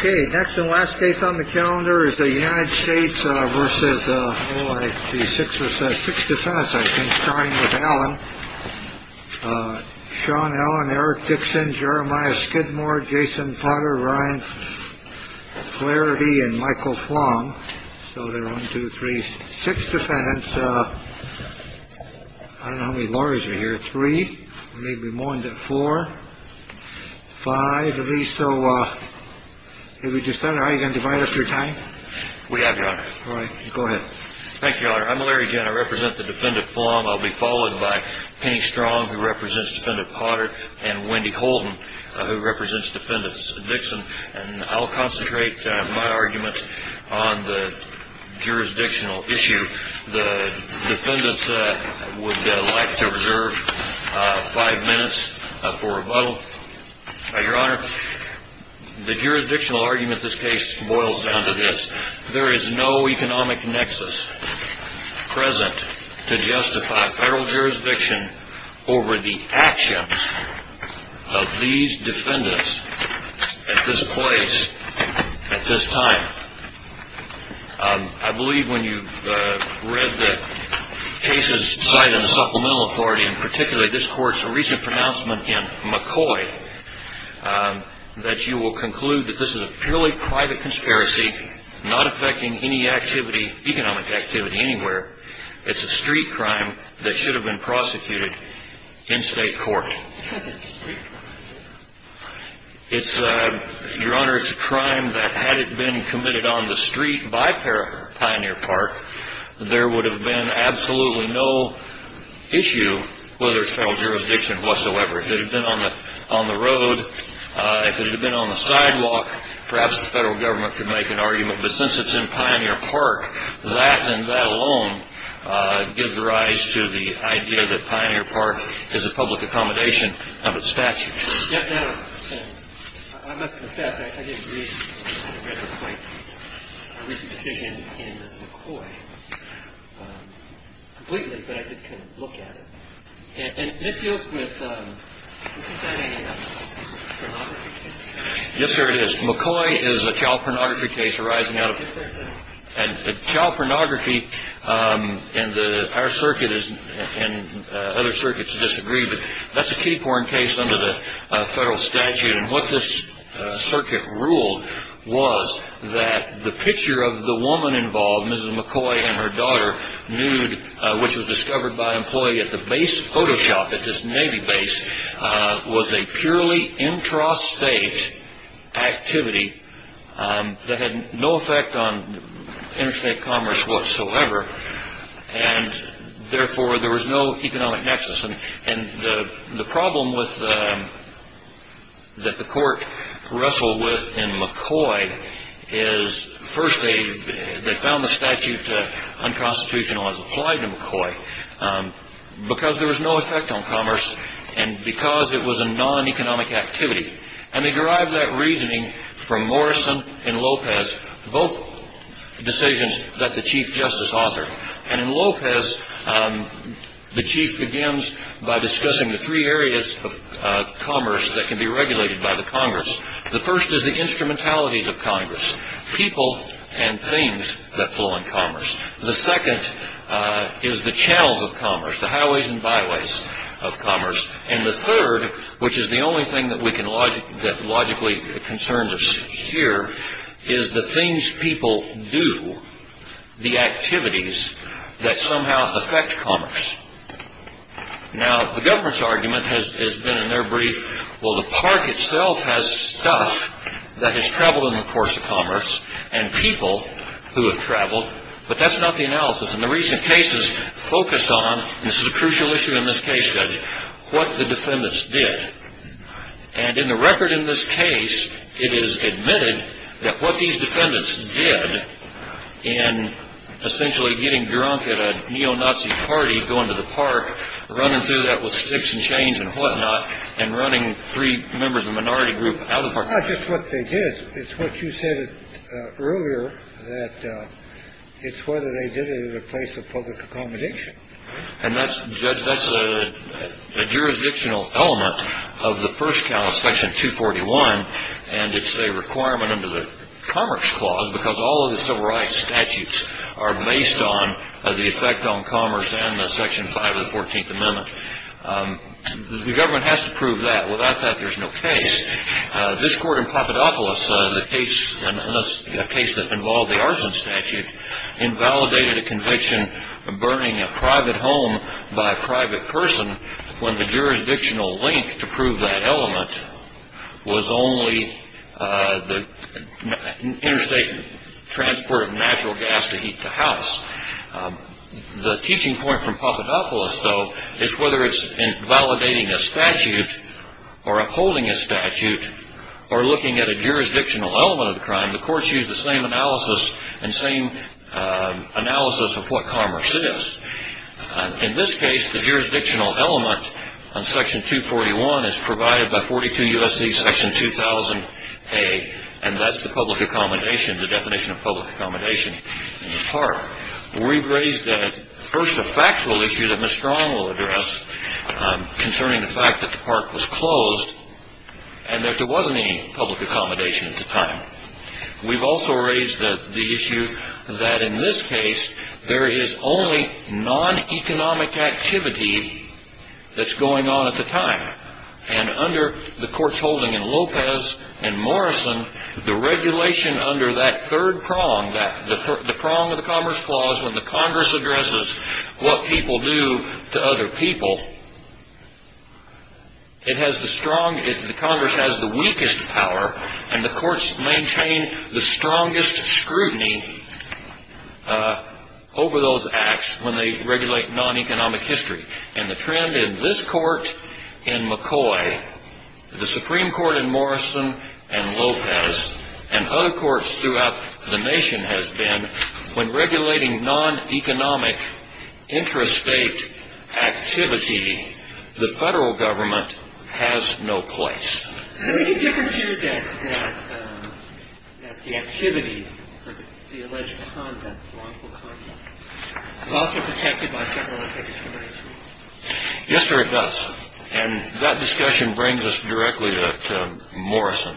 OK, next and last case on the calendar is the United States versus the six or six defense. I think starting with Alan, Sean, Alan, Eric Dixon, Jeremiah Skidmore, Jason Potter, Ryan Clarity and Michael Flong. So they're one, two, three, six defendants. I don't know how many lawyers are here. Three, maybe more than four, five of these. So if we just start, I can divide up your time. We have. All right. Go ahead. Thank you, Your Honor. I'm Larry. I represent the defendant. I'll be followed by Penny Strong, who represents defendant Potter and Wendy Holden, who represents defendants Dixon. And I'll concentrate my arguments on the jurisdictional issue. The defendants would like to observe five minutes for rebuttal. Your Honor, the jurisdictional argument of this case boils down to this. There is no economic nexus present to justify federal jurisdiction over the actions of these defendants at this place at this time. I believe when you read the cases cited in the Supplemental Authority, and particularly this court's recent pronouncement in McCoy, that you will conclude that this is a purely private conspiracy, not affecting any activity, economic activity anywhere. It's a street crime that should have been prosecuted in state court. Your Honor, it's a crime that had it been committed on the street by Pioneer Park, there would have been absolutely no issue whether it's federal jurisdiction whatsoever. If it had been on the road, if it had been on the sidewalk, perhaps the federal government could make an argument. But since it's in Pioneer Park, that and that alone gives rise to the idea that Pioneer Park is a public accommodation of its statutes. I must confess, I didn't read the quite recent decision in McCoy completely, but I did kind of look at it. And it deals with, isn't that a pornography case? Yes, sir, it is. McCoy is a child pornography case arising out of it. And child pornography in our circuit and other circuits disagree, but that's a key porn case under the federal statute. And what this circuit ruled was that the picture of the woman involved, Mrs. McCoy and her daughter, nude, which was discovered by an employee at the base of Photoshop at this Navy base, was a purely intrastate activity that had no effect on interstate commerce whatsoever. And therefore, there was no economic nexus. And the problem that the court wrestled with in McCoy is, first they found the statute unconstitutional as applied to McCoy, because there was no effect on commerce and because it was a non-economic activity. And they derived that reasoning from Morrison and Lopez, both decisions that the Chief Justice authored. And in Lopez, the Chief begins by discussing the three areas of commerce that can be regulated by the Congress. The first is the instrumentalities of Congress, people and things that flow in commerce. The second is the channels of commerce, the highways and byways of commerce. And the third, which is the only thing that logically concerns us here, is the things people do, the activities that somehow affect commerce. Now, the government's argument has been in their brief, well, the park itself has stuff that has traveled in the course of commerce, and people who have traveled, but that's not the analysis. And the recent cases focus on, and this is a crucial issue in this case, Judge, what the defendants did. And in the record in this case, it is admitted that what these defendants did in essentially getting drunk at a neo-Nazi party, going to the park, running through that with sticks and chains and whatnot, and running three members of a minority group out of the park. It's not just what they did. It's what you said earlier, that it's whether they did it in the place of public accommodation. And that's, Judge, that's a jurisdictional element of the first count of Section 241, and it's a requirement under the Commerce Clause because all of the civil rights statutes are based on the effect on commerce and the Section 5 of the 14th Amendment. The government has to prove that. Without that, there's no case. This court in Papadopoulos, a case that involved the Arson Statute, invalidated a conviction of burning a private home by a private person when the jurisdictional link to prove that element was only the interstate transport of natural gas to heat the house. The teaching point from Papadopoulos, though, is whether it's in validating a statute or upholding a statute or looking at a jurisdictional element of the crime, the courts use the same analysis and same analysis of what commerce is. In this case, the jurisdictional element on Section 241 is provided by 42 U.S.C. Section 2000A, and that's the public accommodation, the definition of public accommodation in the park. We've raised first a factual issue that Ms. Strong will address concerning the fact that the park was closed and that there wasn't any public accommodation at the time. We've also raised the issue that in this case, there is only non-economic activity that's going on at the time, and under the courts holding in Lopez and Morrison, the regulation under that third prong, the prong of the Commerce Clause when the Congress addresses what people do to other people, the Congress has the weakest power, and the courts maintain the strongest scrutiny over those acts when they regulate non-economic history. And the trend in this Court, in McCoy, the Supreme Court in Morrison, and Lopez, and other courts throughout the nation has been when regulating non-economic interstate activity, the Federal Government has no place. Is there any difference here that the activity or the alleged conduct, the wrongful conduct, is also protected by federal discrimination? Yes, there is. And that discussion brings us directly to Morrison,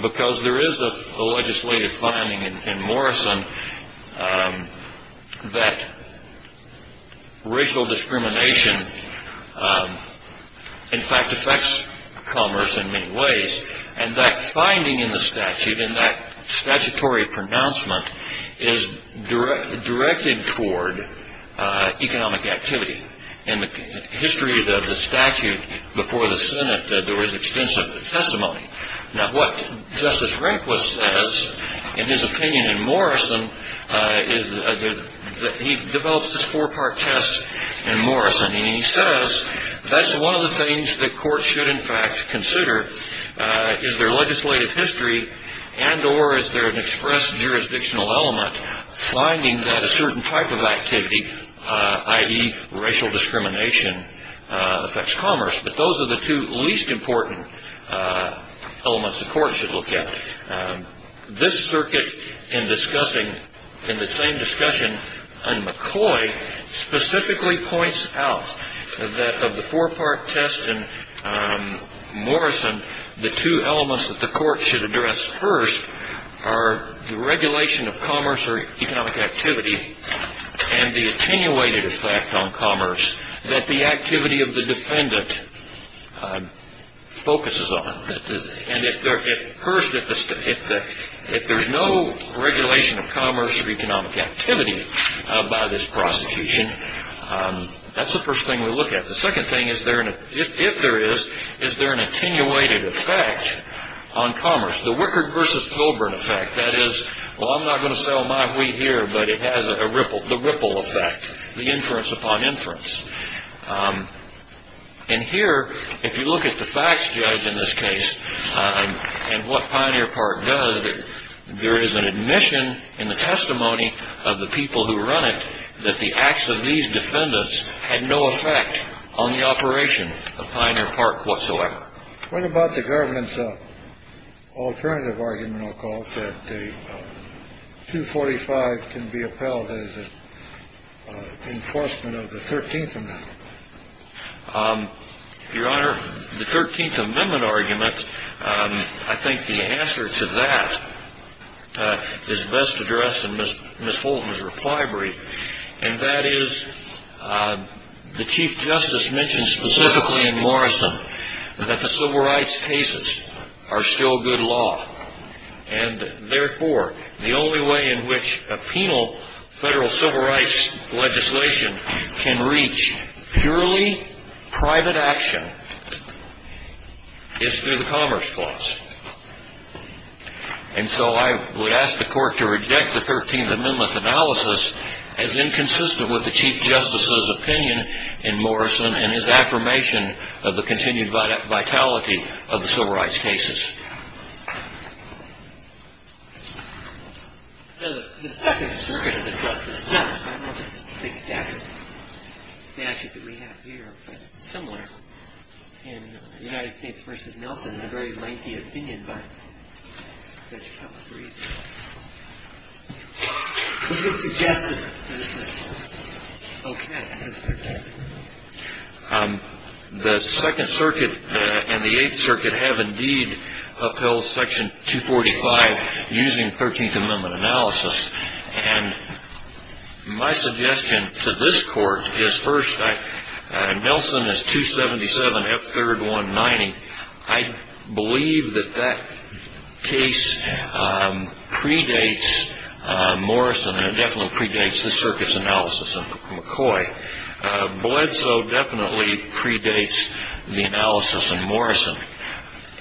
because there is a legislative finding in Morrison that racial discrimination, in fact, affects commerce in many ways, and that finding in the statute and that statutory pronouncement is directed toward economic activity. In the history of the statute before the Senate, there was extensive testimony. Now, what Justice Rehnquist says in his opinion in Morrison is that he develops this four-part test in Morrison, and he says that's one of the things that courts should, in fact, consider is their legislative history and or is there an express jurisdictional element finding that a certain type of activity, i.e. racial discrimination, affects commerce. But those are the two least important elements the court should look at. This circuit in discussing, in the same discussion on McCoy, specifically points out that of the four-part test in Morrison, the two elements that the court should address first are the regulation of commerce or economic activity and the attenuated effect on commerce that the activity of the defendant focuses on. And first, if there's no regulation of commerce or economic activity by this prosecution, that's the first thing we look at. The second thing, if there is, is there an attenuated effect on commerce. The Wickard versus Colburn effect, that is, well, I'm not going to sell my wheat here, but it has the ripple effect, the inference upon inference. And here, if you look at the facts, Judge, in this case and what Pioneer Park does, there is an admission in the testimony of the people who run it that the acts of these defendants had no effect on the operation of Pioneer Park whatsoever. What about the government's alternative argument, I'll call it, that 245 can be upheld as an enforcement of the 13th Amendment? Your Honor, the 13th Amendment argument, I think the answer to that is best addressed in Ms. Fulton's reply brief, and that is the Chief Justice mentioned specifically in Morrison that the civil rights cases are still good law. And, therefore, the only way in which a penal federal civil rights legislation can reach purely private action is through the Commerce Clause. And so I would ask the Court to reject the 13th Amendment analysis as inconsistent with the Chief Justice's opinion in Morrison and his affirmation of the continued vitality of the civil rights cases. The Second Circuit has addressed this, not in the exact statute that we have here, but somewhere in the United States v. Nelson in a very lengthy opinion by Judge Calabresi. Is it suggestive that this is okay? The Second Circuit and the Eighth Circuit have, indeed, upheld Section 245 using 13th Amendment analysis. And my suggestion to this Court is, first, Nelson is 277 F. 3rd 190. I believe that that case predates Morrison, and it definitely predates the Circuit's analysis in McCoy. Bledsoe definitely predates the analysis in Morrison.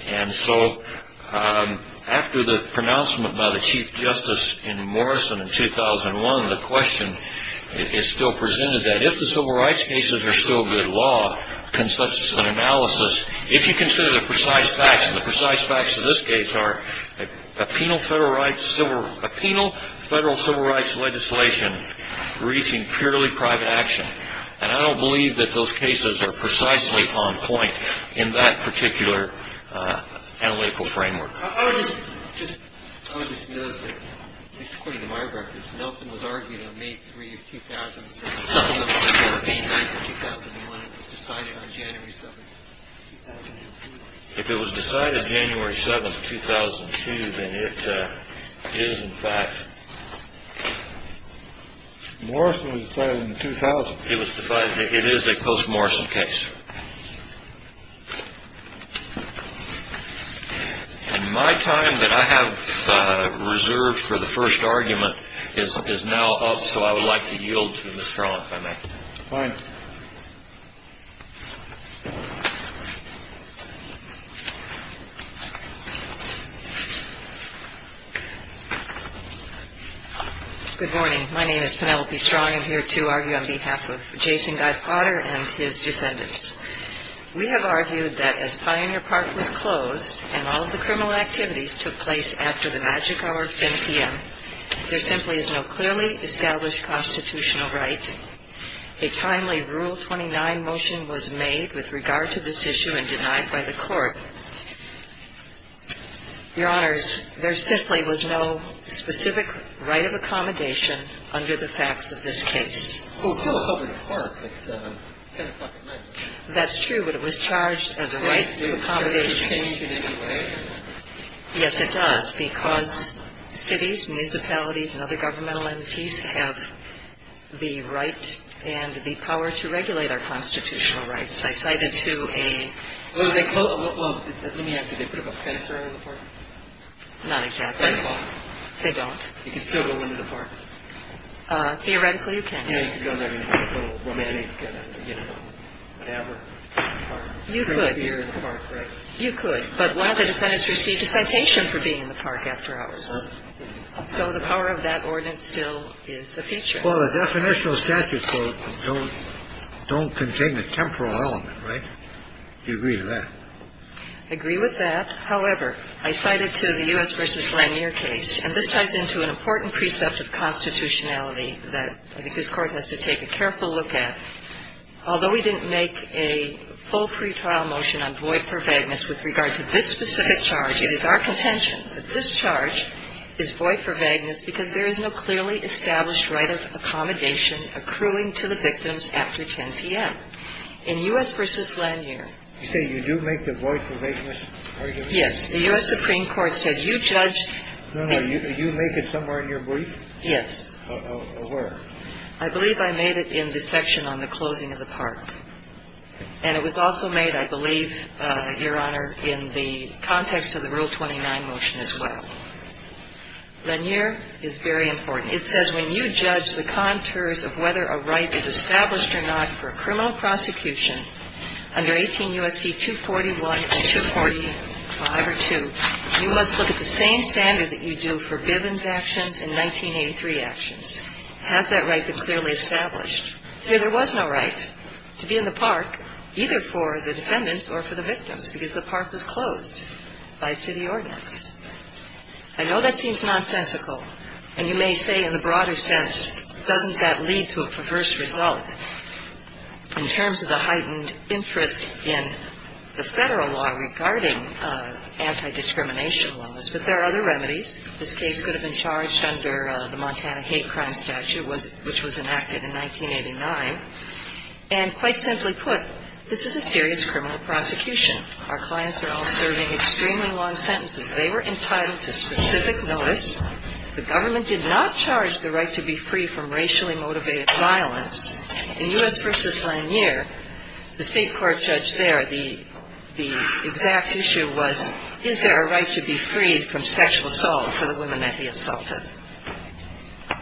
And so after the pronouncement by the Chief Justice in Morrison in 2001, the question is still presented that if the civil rights cases are still good law, if you consider the precise facts, and the precise facts of this case are a penal federal civil rights legislation reaching purely private action, and I don't believe that those cases are precisely on point in that particular analytical framework. I would just note that, just according to my records, Nelson was argued on May 3, 2001. It was decided on January 7, 2002. If it was decided January 7, 2002, then it is, in fact. Morrison was decided in 2000. It is a post-Morrison case. And my time that I have reserved for the first argument is now up, so I would like to yield to Ms. Strong, if I may. Fine. Good morning. My name is Penelope Strong. I am here to argue on behalf of Jason Guy Potter and his defendants. We have argued that as Pioneer Park was closed and all of the criminal activities took place after the magic hour, 5 p.m., there simply is no clearly established constitutional right. A timely Rule 29 motion was made with regard to this issue and denied by the court. Your Honors, there simply was no specific right of accommodation under the facts of this case. That's true, but it was charged as a right of accommodation. Yes, it does, because cities, municipalities and other governmental entities have the right and the power to regulate our constitutional rights. I cited to a little bit. Well, let me ask you. They put up a fence around the park. Not exactly. They don't. You can still go into the park. Theoretically, you can. You know, you can go in there and have a little romantic, you know, whatever. You could. Drink a beer in the park, right? You could. But one of the defendants received a citation for being in the park after hours. So the power of that ordinance still is a feature. Well, the definitional statute don't contain the temporal element, right? Do you agree with that? I agree with that. However, I cited to the U.S. v. Lanier case, and this ties into an important precept of constitutionality that I think this Court has to take a careful look at. Although we didn't make a full pretrial motion on void for vagueness with regard to this specific charge, it is our contention that this charge is void for vagueness because there is no clearly established right of accommodation accruing to the victims after 10 p.m. In U.S. v. Lanier. You say you do make the void for vagueness argument? Yes. The U.S. Supreme Court said you judge. No, no. You make it somewhere in your brief? Yes. Where? I believe I made it in the section on the closing of the park. And it was also made, I believe, Your Honor, in the context of the Rule 29 motion as well. Lanier is very important. It says when you judge the contours of whether a right is established or not for a criminal prosecution under 18 U.S.C. 241 and 245 or 2, you must look at the same standard that you do for Bivens actions and 1983 actions. Has that right been clearly established? No, there was no right to be in the park, either for the defendants or for the victims, because the park was closed by a city ordinance. I know that seems nonsensical, and you may say in the broader sense, doesn't that lead to a perverse result in terms of the heightened interest in the federal law regarding anti-discrimination laws? But there are other remedies. This case could have been charged under the Montana Hate Crime Statute, which was enacted in 1989. And quite simply put, this is a serious criminal prosecution. Our clients are all serving extremely long sentences. They were entitled to specific notice. The government did not charge the right to be free from racially motivated violence. In U.S. v. Lanier, the state court judge there, the exact issue was, is there a right to be freed from sexual assault for the women that he assaulted?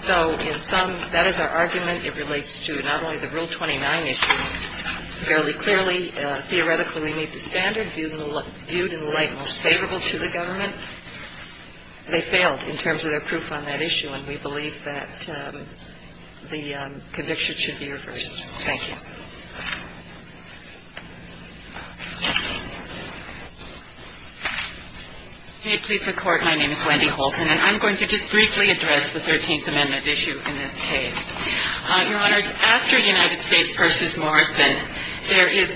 So in some, that is our argument. It relates to not only the Rule 29 issue fairly clearly. Theoretically, we need the standard viewed in the light most favorable to the government. They failed in terms of their proof on that issue, and we believe that the conviction should be reversed. Thank you. MS. HOLTON. May it please the Court, my name is Wendy Holton, and I'm going to just briefly address the 13th Amendment issue in this case. Your Honors, after United States v. Morrison, there is,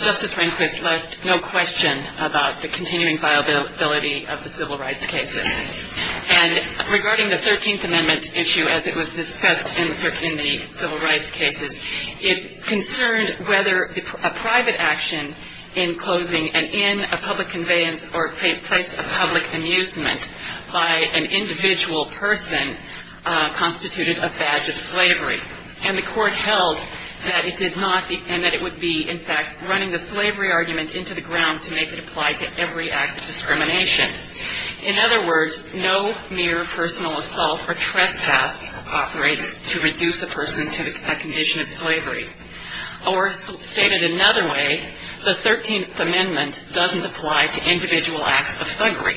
Justice Rehnquist left no question about the continuing viability of the civil rights cases. And regarding the 13th Amendment issue, as it was discussed in the civil rights cases, it concerned whether a private action in closing an inn, a public conveyance, or place of public amusement by an individual person constituted a badge of slavery. And the Court held that it did not, and that it would be, in fact, running the slavery argument into the ground to make it apply to every act of discrimination. In other words, no mere personal assault or trespass operates to reduce a person to a condition of slavery. Or stated another way, the 13th Amendment doesn't apply to individual acts of thuggery.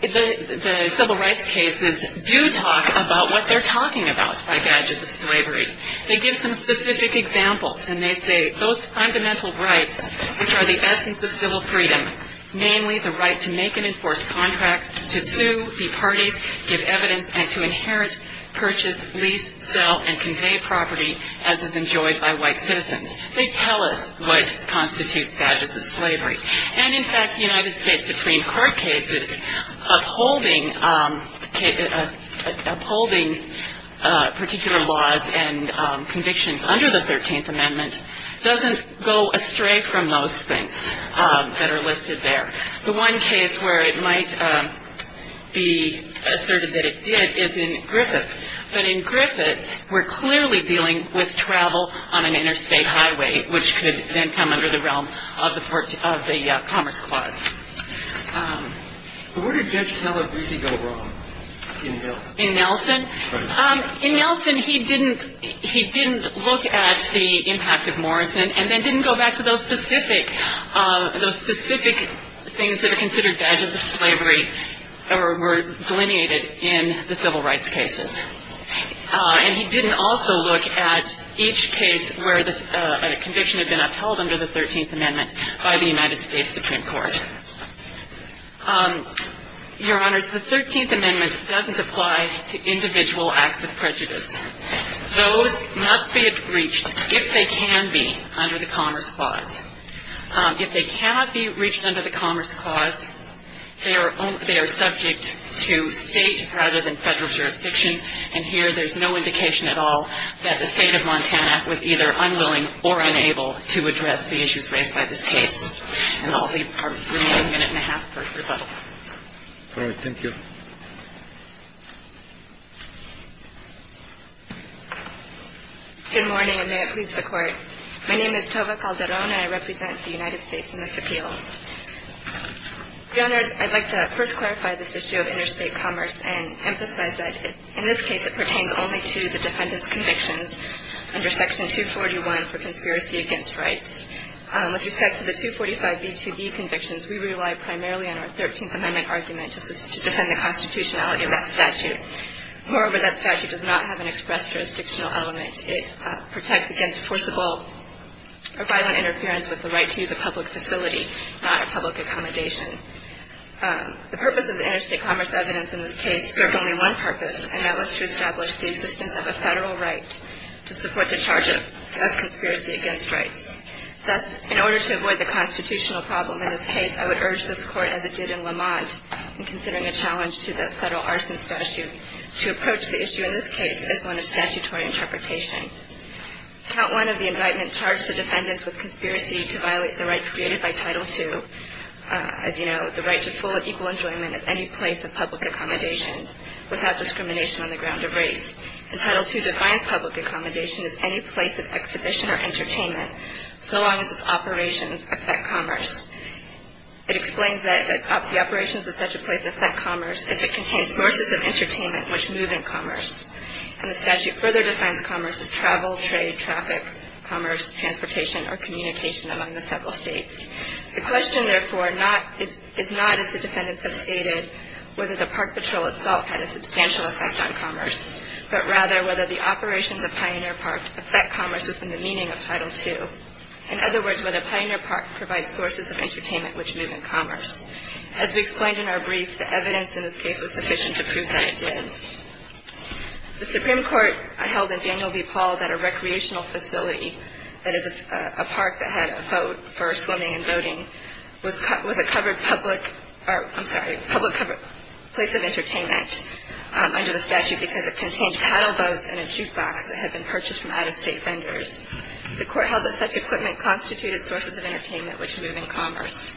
The civil rights cases do talk about what they're talking about by badges of slavery. They give some specific examples, and they say those fundamental rights, which are the essence of civil freedom, namely the right to make and enforce contracts, to sue, be partied, give evidence, and to inherit, purchase, lease, sell, and convey property as is enjoyed by white citizens. They tell us what constitutes badges of slavery. And, in fact, the United States Supreme Court cases upholding particular laws and convictions under the 13th Amendment doesn't go astray from those things that are listed there. The one case where it might be asserted that it did is in Griffith. But in Griffith, we're clearly dealing with travel on an interstate highway, which could then come under the realm of the Commerce Clause. But where did Judge Calabrese go wrong in Nelson? In Nelson? In Nelson, he didn't look at the impact of Morrison and then didn't go back to those specific things that are considered badges of slavery or were delineated in the civil rights cases. And he didn't also look at each case where a conviction had been upheld under the 13th Amendment by the United States Supreme Court. Your Honors, the 13th Amendment doesn't apply to individual acts of prejudice. Those must be reached if they can be under the Commerce Clause. If they cannot be reached under the Commerce Clause, they are subject to state rather than federal jurisdiction. And here there's no indication at all that the State of Montana was either unwilling or unable to address the issues raised by this case. And I'll leave our remaining minute and a half for rebuttal. All right. Thank you. Good morning, and may it please the Court. My name is Tova Calderon, and I represent the United States in this appeal. Your Honors, I'd like to first clarify this issue of interstate commerce and emphasize that in this case it pertains only to the defendant's convictions under Section 241 for conspiracy against rights. With respect to the 245B2B convictions, we rely primarily on our 13th Amendment argument to defend the constitutionality of that statute. Moreover, that statute does not have an express jurisdictional element. It protects against forcible or violent interference with the right to use a public facility, not a public accommodation. The purpose of the interstate commerce evidence in this case served only one purpose, and that was to establish the existence of a federal right to support the charge of conspiracy against rights. Thus, in order to avoid the constitutional problem in this case, I would urge this Court, as it did in Lamont, in considering a challenge to the federal arson statute, to approach the issue in this case as one of statutory interpretation. Count 1 of the indictment charged the defendants with conspiracy to violate the right created by Title II, as you know, the right to full and equal enjoyment of any place of public accommodation without discrimination on the ground of race. And Title II defines public accommodation as any place of exhibition or entertainment so long as its operations affect commerce. It explains that the operations of such a place affect commerce if it contains sources of entertainment which move in commerce. And the statute further defines commerce as travel, trade, traffic, commerce, transportation, or communication among the several states. The question, therefore, is not, as the defendants have stated, whether the park patrol itself had a substantial effect on commerce, but rather whether the operations of Pioneer Park affect commerce within the meaning of Title II. In other words, whether Pioneer Park provides sources of entertainment which move in commerce. As we explained in our brief, the evidence in this case was sufficient to prove that it did. The Supreme Court held in Daniel v. Paul that a recreational facility, that is, a park that had a vote for swimming and boating, was a covered public or, I'm sorry, public place of entertainment under the statute because it contained paddle boats and a jukebox that had been purchased from out-of-state vendors. The Court held that such equipment constituted sources of entertainment which move in commerce.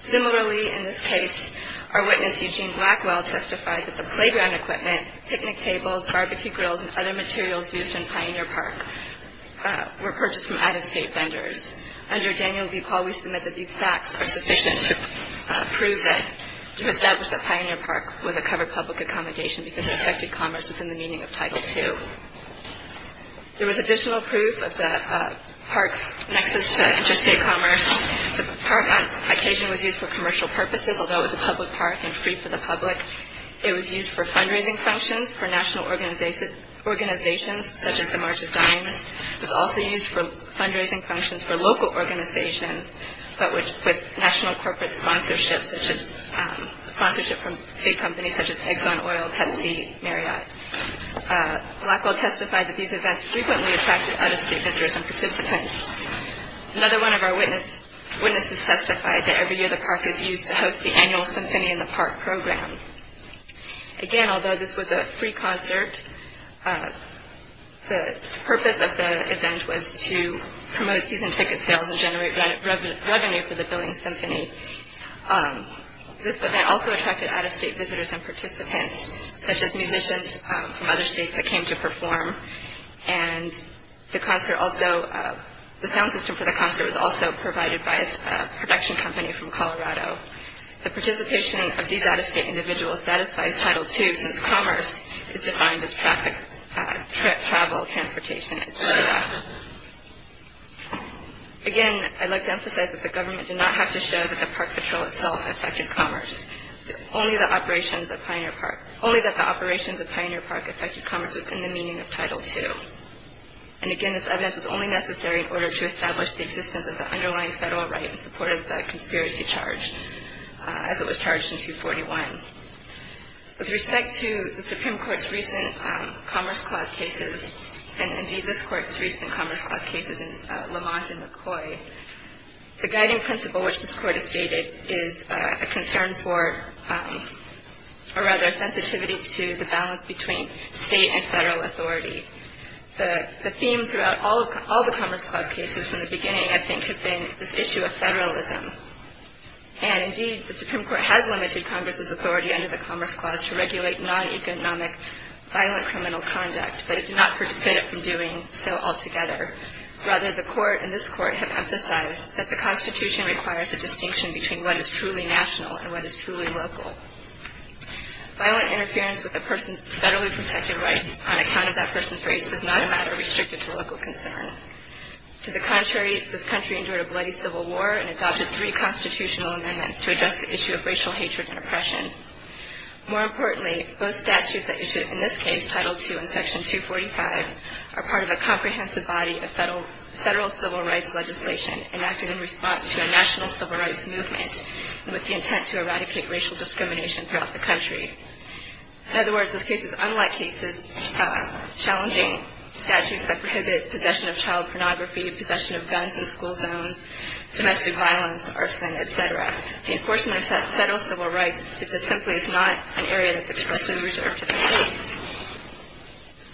Similarly, in this case, our witness, Eugene Blackwell, testified that the playground equipment, picnic tables, barbecue grills, and other materials used in Pioneer Park were purchased from out-of-state vendors. Under Daniel v. Paul, we submit that these facts are sufficient to prove that, to establish that Pioneer Park was a covered public accommodation because it affected commerce within the meaning of Title II. There was additional proof of the park's nexus to interstate commerce. The park on occasion was used for commercial purposes, although it was a public park and free for the public. It was used for fundraising functions for national organizations such as the March of Dimes. It was also used for fundraising functions for local organizations but with national corporate sponsorships such as sponsorship from big companies such as Exxon Oil, Pepsi, Marriott. Blackwell testified that these events frequently attracted out-of-state visitors and participants. Another one of our witnesses testified that every year the park is used to host the annual Symphony in the Park program. Again, although this was a free concert, the purpose of the event was to promote season ticket sales and generate revenue for the Billings Symphony. This event also attracted out-of-state visitors and participants, such as musicians from other states that came to perform. The sound system for the concert was also provided by a production company from Colorado. The participation of these out-of-state individuals satisfies Title II since commerce is defined as travel, transportation, etc. Again, I'd like to emphasize that the government did not have to show that the park patrol itself affected commerce. Only that the operations of Pioneer Park affected commerce was in the meaning of Title II. And again, this evidence was only necessary in order to establish the existence of the underlying federal right in support of the conspiracy charge as it was charged in 241. With respect to the Supreme Court's recent Commerce Clause cases and indeed this Court's recent Commerce Clause cases in Lamont and McCoy, the guiding principle which this Court has stated is a concern for, or rather a sensitivity to the balance between state and federal authority. The theme throughout all the Commerce Clause cases from the beginning, I think, has been this issue of federalism. And indeed, the Supreme Court has limited Congress's authority under the Commerce Clause to regulate non-economic violent criminal conduct, but it's not forbid it from doing so altogether. Rather, the Court and this Court have emphasized that the Constitution requires a distinction between what is truly national and what is truly local. Violent interference with a person's federally protected rights on account of that person's race is not a matter restricted to local concern. To the contrary, this country endured a bloody civil war and adopted three constitutional amendments to address the issue of racial hatred and oppression. More importantly, both statutes that you see in this case, Title II and Section 245, are part of a comprehensive body of federal civil rights legislation enacted in response to a national civil rights movement with the intent to eradicate racial discrimination throughout the country. In other words, this case is unlike cases challenging statutes that prohibit possession of child pornography, possession of guns in school zones, domestic violence, arson, et cetera. The enforcement of federal civil rights is just simply not an area that's expressly reserved to the states.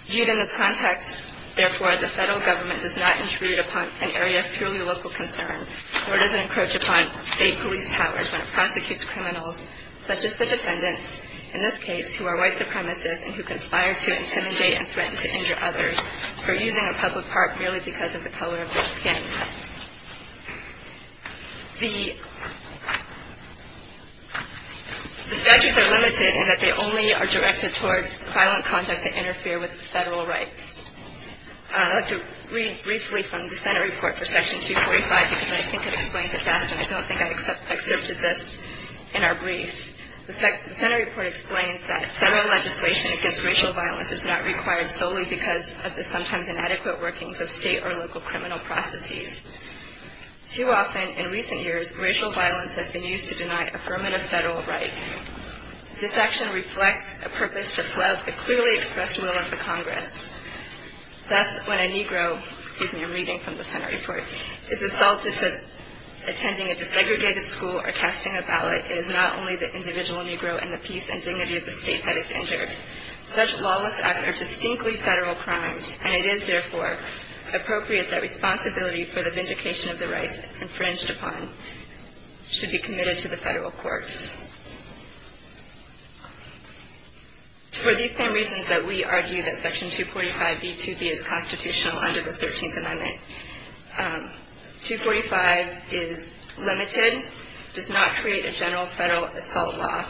Viewed in this context, therefore, the federal government does not intrude upon an area of truly local concern nor does it encroach upon state police powers when it prosecutes criminals such as the defendants, in this case, who are white supremacists and who conspire to intimidate and threaten to injure others for using a public park merely because of the color of their skin. The statutes are limited in that they only are directed towards violent conduct that interfere with federal rights. I'd like to read briefly from the Senate report for Section 245 because I think it explains it best and I don't think I've excerpted this in our brief. The Senate report explains that federal legislation against racial violence is not required solely because of the sometimes inadequate workings of state or local criminal processes. Too often in recent years, racial violence has been used to deny affirmative federal rights. This action reflects a purpose to flout the clearly expressed will of the Congress. Thus, when a Negro, excuse me, I'm reading from the Senate report, is assaulted for attending a desegregated school or casting a ballot, it is not only the individual Negro and the peace and dignity of the state that is injured. Such lawless acts are distinctly federal crimes, and it is, therefore, appropriate that responsibility for the vindication of the rights infringed upon should be committed to the federal courts. For these same reasons that we argue that Section 245b2b is constitutional under the 13th Amendment, 245 is limited, does not create a general federal assault law,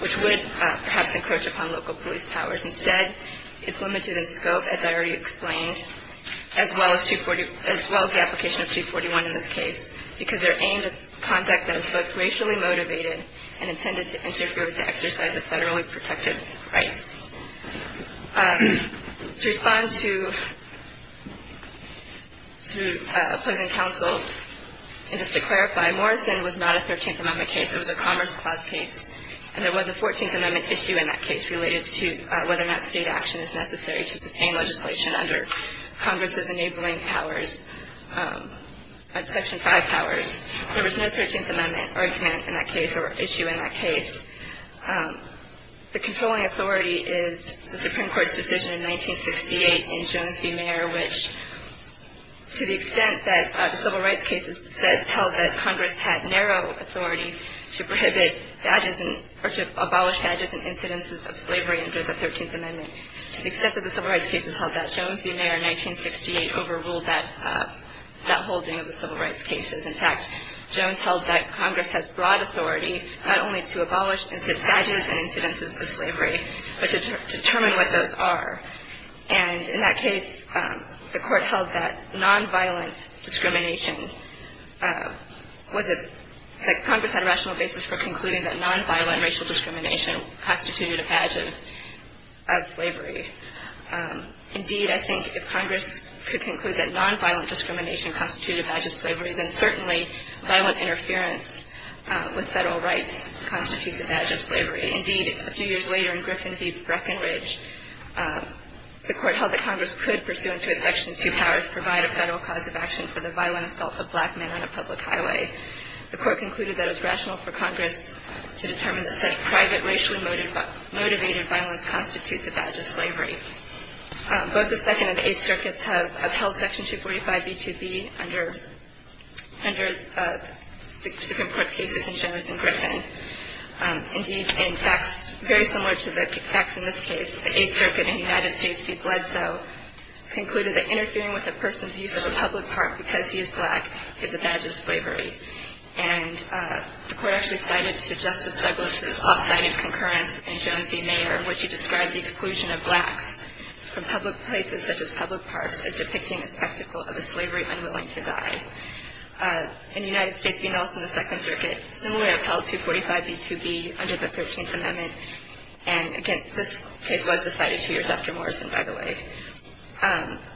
which would perhaps encroach upon local police powers. Instead, it's limited in scope, as I already explained, as well as the application of 241 in this case, because they're aimed at conduct that is both racially motivated and intended to interfere with the exercise of federally protected rights. To respond to opposing counsel, and just to clarify, Morrison was not a 13th Amendment case. It was a Commerce Clause case, and there was a 14th Amendment issue in that case related to whether or not state action is necessary to sustain legislation under Congress's enabling powers, Section 5 powers. There was no 13th Amendment argument in that case or issue in that case. The controlling authority is the Supreme Court's decision in 1968 in Jones v. Mayer, to the extent that the civil rights cases held that Congress had narrow authority to prohibit badges or to abolish badges and incidences of slavery under the 13th Amendment. To the extent that the civil rights cases held that, Jones v. Mayer in 1968 overruled that holding of the civil rights cases. In fact, Jones held that Congress has broad authority not only to abolish badges and incidences of slavery, but to determine what those are. And in that case, the Court held that nonviolent discrimination was a – that Congress had a rational basis for concluding that nonviolent racial discrimination constituted a badge of slavery. Indeed, I think if Congress could conclude that nonviolent discrimination constituted a badge of slavery, then certainly violent interference with federal rights constitutes a badge of slavery. Indeed, a few years later in Griffin v. Breckinridge, the Court held that Congress could, pursuant to its Section 2 powers, provide a federal cause of action for the violent assault of black men on a public highway. The Court concluded that it was rational for Congress to determine that such private racially motivated violence constitutes a badge of slavery. Both the Second and Eighth Circuits have held Section 245b2b under the Supreme Court's cases in Jones and Griffin. Indeed, in fact, very similar to the facts in this case, the Eighth Circuit in the United States v. Bledsoe concluded that interfering with a person's use of a public park because he is black is a badge of slavery. And the Court actually cited to Justice Douglas' off-cited concurrence in Jones v. Mayer in which he described the exclusion of blacks from public places such as public parks as depicting a spectacle of a slavery unwilling to die. In the United States v. Nelson, the Second Circuit similarly upheld 245b2b under the Thirteenth Amendment. And again, this case was decided two years after Morrison, by the way.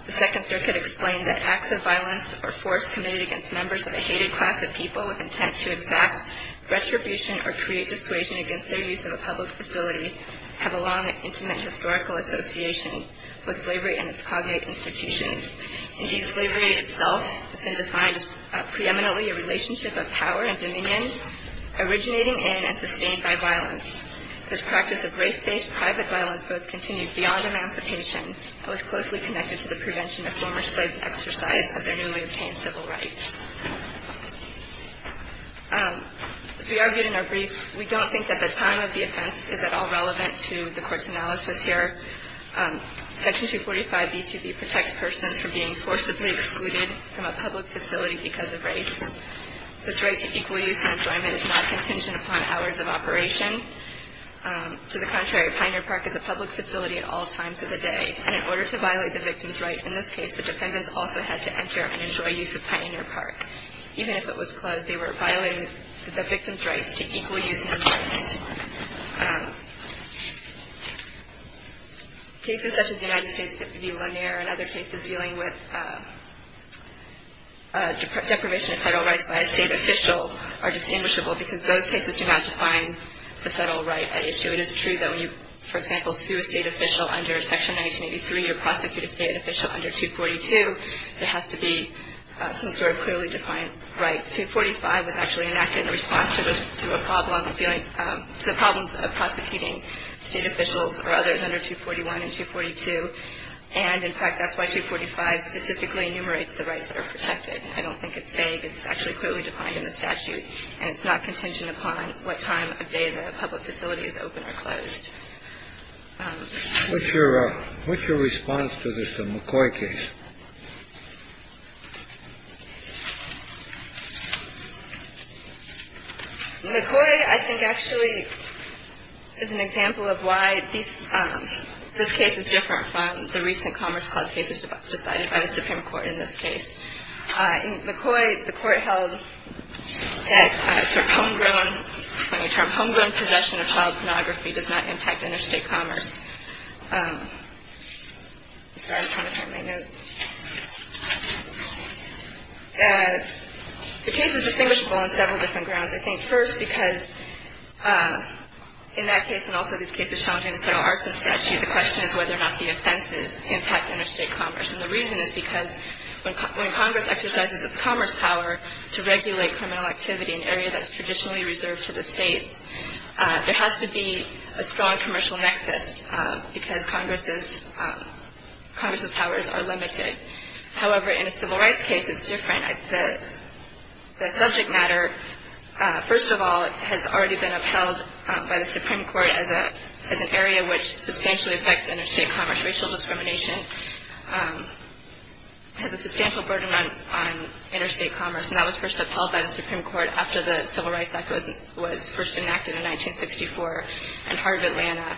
The Second Circuit explained that acts of violence or force committed against members of a hated class of people with intent to exact retribution or create dissuasion against their use of a public facility have a long and intimate historical association with slavery and its cognate institutions. Indeed, slavery itself has been defined as preeminently a relationship of power and dominion originating in and sustained by violence. This practice of race-based private violence both continued beyond emancipation and was closely connected to the prevention of former slaves' exercise of their newly obtained civil rights. As we argued in our brief, we don't think that the time of the offense is at all relevant to the Court's analysis here. Section 245b2b protects persons from being forcibly excluded from a public facility because of race. This right to equal use and enjoyment is not contingent upon hours of operation. To the contrary, Pioneer Park is a public facility at all times of the day. And in order to violate the victim's right in this case, the defendants also had to enter and enjoy use of Pioneer Park. Even if it was closed, they were violating the victim's rights to equal use and enjoyment. Cases such as United States v. Lanier and other cases dealing with deprivation of federal rights by a state official are distinguishable because those cases do not define the federal right at issue. It is true that when you, for example, sue a state official under Section 1983 or prosecute a state official under 242, there has to be some sort of clearly defined right. Section 245 was actually enacted in response to the problems of prosecuting state officials or others under 241 and 242. And, in fact, that's why 245 specifically enumerates the rights that are protected. I don't think it's vague. It's actually clearly defined in the statute. And it's not contingent upon what time of day the public facility is open or closed. What's your what's your response to this McCoy case? McCoy, I think, actually is an example of why this case is different from the recent Commerce Clause cases decided by the Supreme Court in this case. McCoy, the court held that homegrown possession of child pornography does not impact interstate commerce. The case is distinguishable on several different grounds. I think first, because in that case and also these cases challenging the federal arson statute, the question is whether or not the offenses impact interstate commerce. And the reason is because when Congress exercises its commerce power to regulate criminal activity in an area that's traditionally reserved for the states, there has to be a strong commercial nexus because Congress's powers are limited. However, in a civil rights case, it's different. The subject matter, first of all, has already been upheld by the Supreme Court as an area which substantially affects interstate commerce. We know that racial discrimination has a substantial burden on interstate commerce, and that was first upheld by the Supreme Court after the Civil Rights Act was first enacted in 1964 in part of Atlanta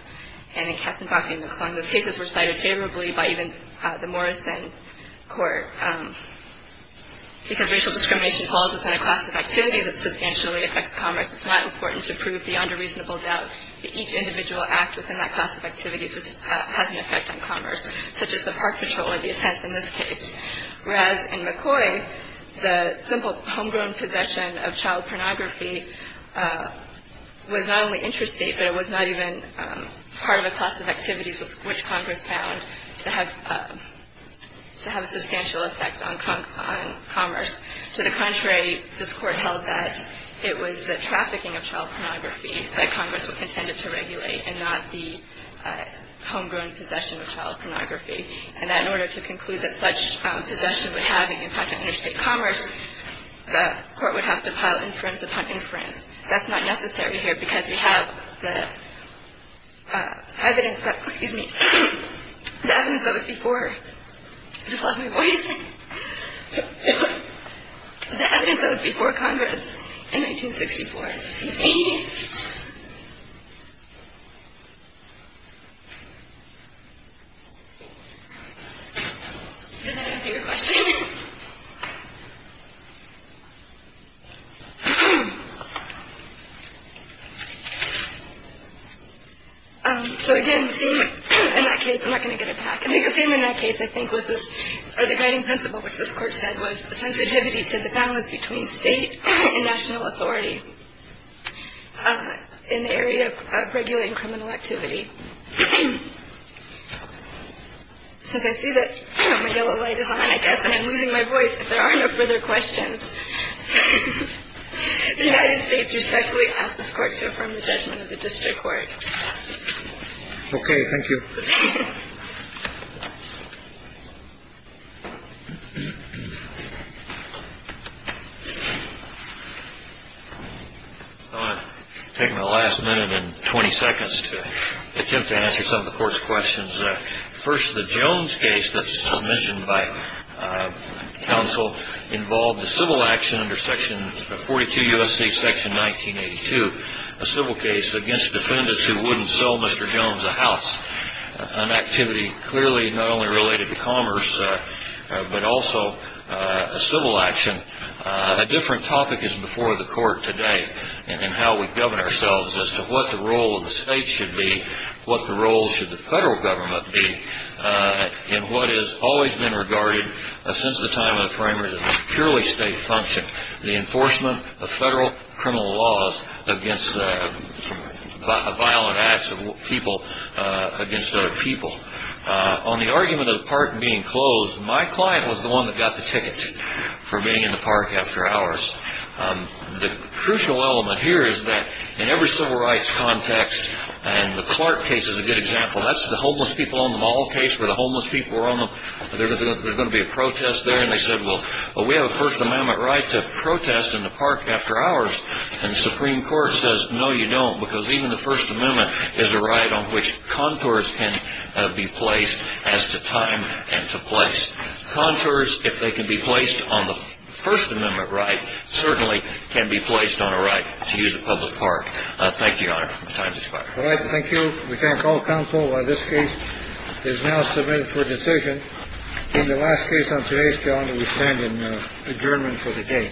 and in Katzenbach and McClung. Those cases were cited favorably by even the Morrison Court. Because racial discrimination falls within a class of activities, it substantially affects commerce. It's not important to prove beyond a reasonable doubt that each individual act within that class of activities has an effect on commerce, such as the park patrol or the offense in this case. Whereas in McCoy, the simple homegrown possession of child pornography was not only interstate, but it was not even part of a class of activities which Congress found to have a substantial effect on commerce. To the contrary, this Court held that it was the trafficking of child pornography that Congress intended to regulate and not the homegrown possession of child pornography, and that in order to conclude that such possession would have any impact on interstate commerce, the Court would have to pile inference upon inference. That's not necessary here because you have the evidence that – excuse me – the evidence that was before. I just lost my voice. The evidence that was before Congress in 1964. Excuse me. Did that answer your question? Okay. So again, the theme in that case – I'm not going to get it back. I think the theme in that case, I think, was this – or the guiding principle, which this Court said, was the sensitivity to the balance between state and national authority in the area of regulating criminal activity. Since I see that my yellow light is on, I guess, and I'm losing my voice, if there are no further questions, the United States respectfully asks this Court to affirm the judgment of the district court. Okay. Thank you. Thank you. I'm going to take my last minute and 20 seconds to attempt to answer some of the Court's questions. First, the Jones case that's submissioned by counsel involved a civil action under 42 U.S.C. section 1982, a civil case against defendants who wouldn't sell Mr. Jones a house, an activity clearly not only related to commerce but also a civil action. A different topic is before the Court today in how we govern ourselves as to what the role of the state should be, what the role should the federal government be, and what has always been regarded since the time of the framers as purely state function, the enforcement of federal criminal laws against violent acts of people against other people. On the argument of the park being closed, my client was the one that got the ticket for being in the park after hours. The crucial element here is that in every civil rights context, and the Clark case is a good example, that's the homeless people on the mall case where the homeless people were on them, there's going to be a protest there, and they said, well, we have a First Amendment right to protest in the park after hours. And the Supreme Court says, no, you don't, because even the First Amendment is a right on which contours can be placed as to time and to place. Contours, if they can be placed on the First Amendment right, certainly can be placed on a right to use a public park. Thank you, Your Honor. Time's expired. All right, thank you. We thank all counsel. This case is now submitted for decision in the last case on today's calendar. We stand in German for the day.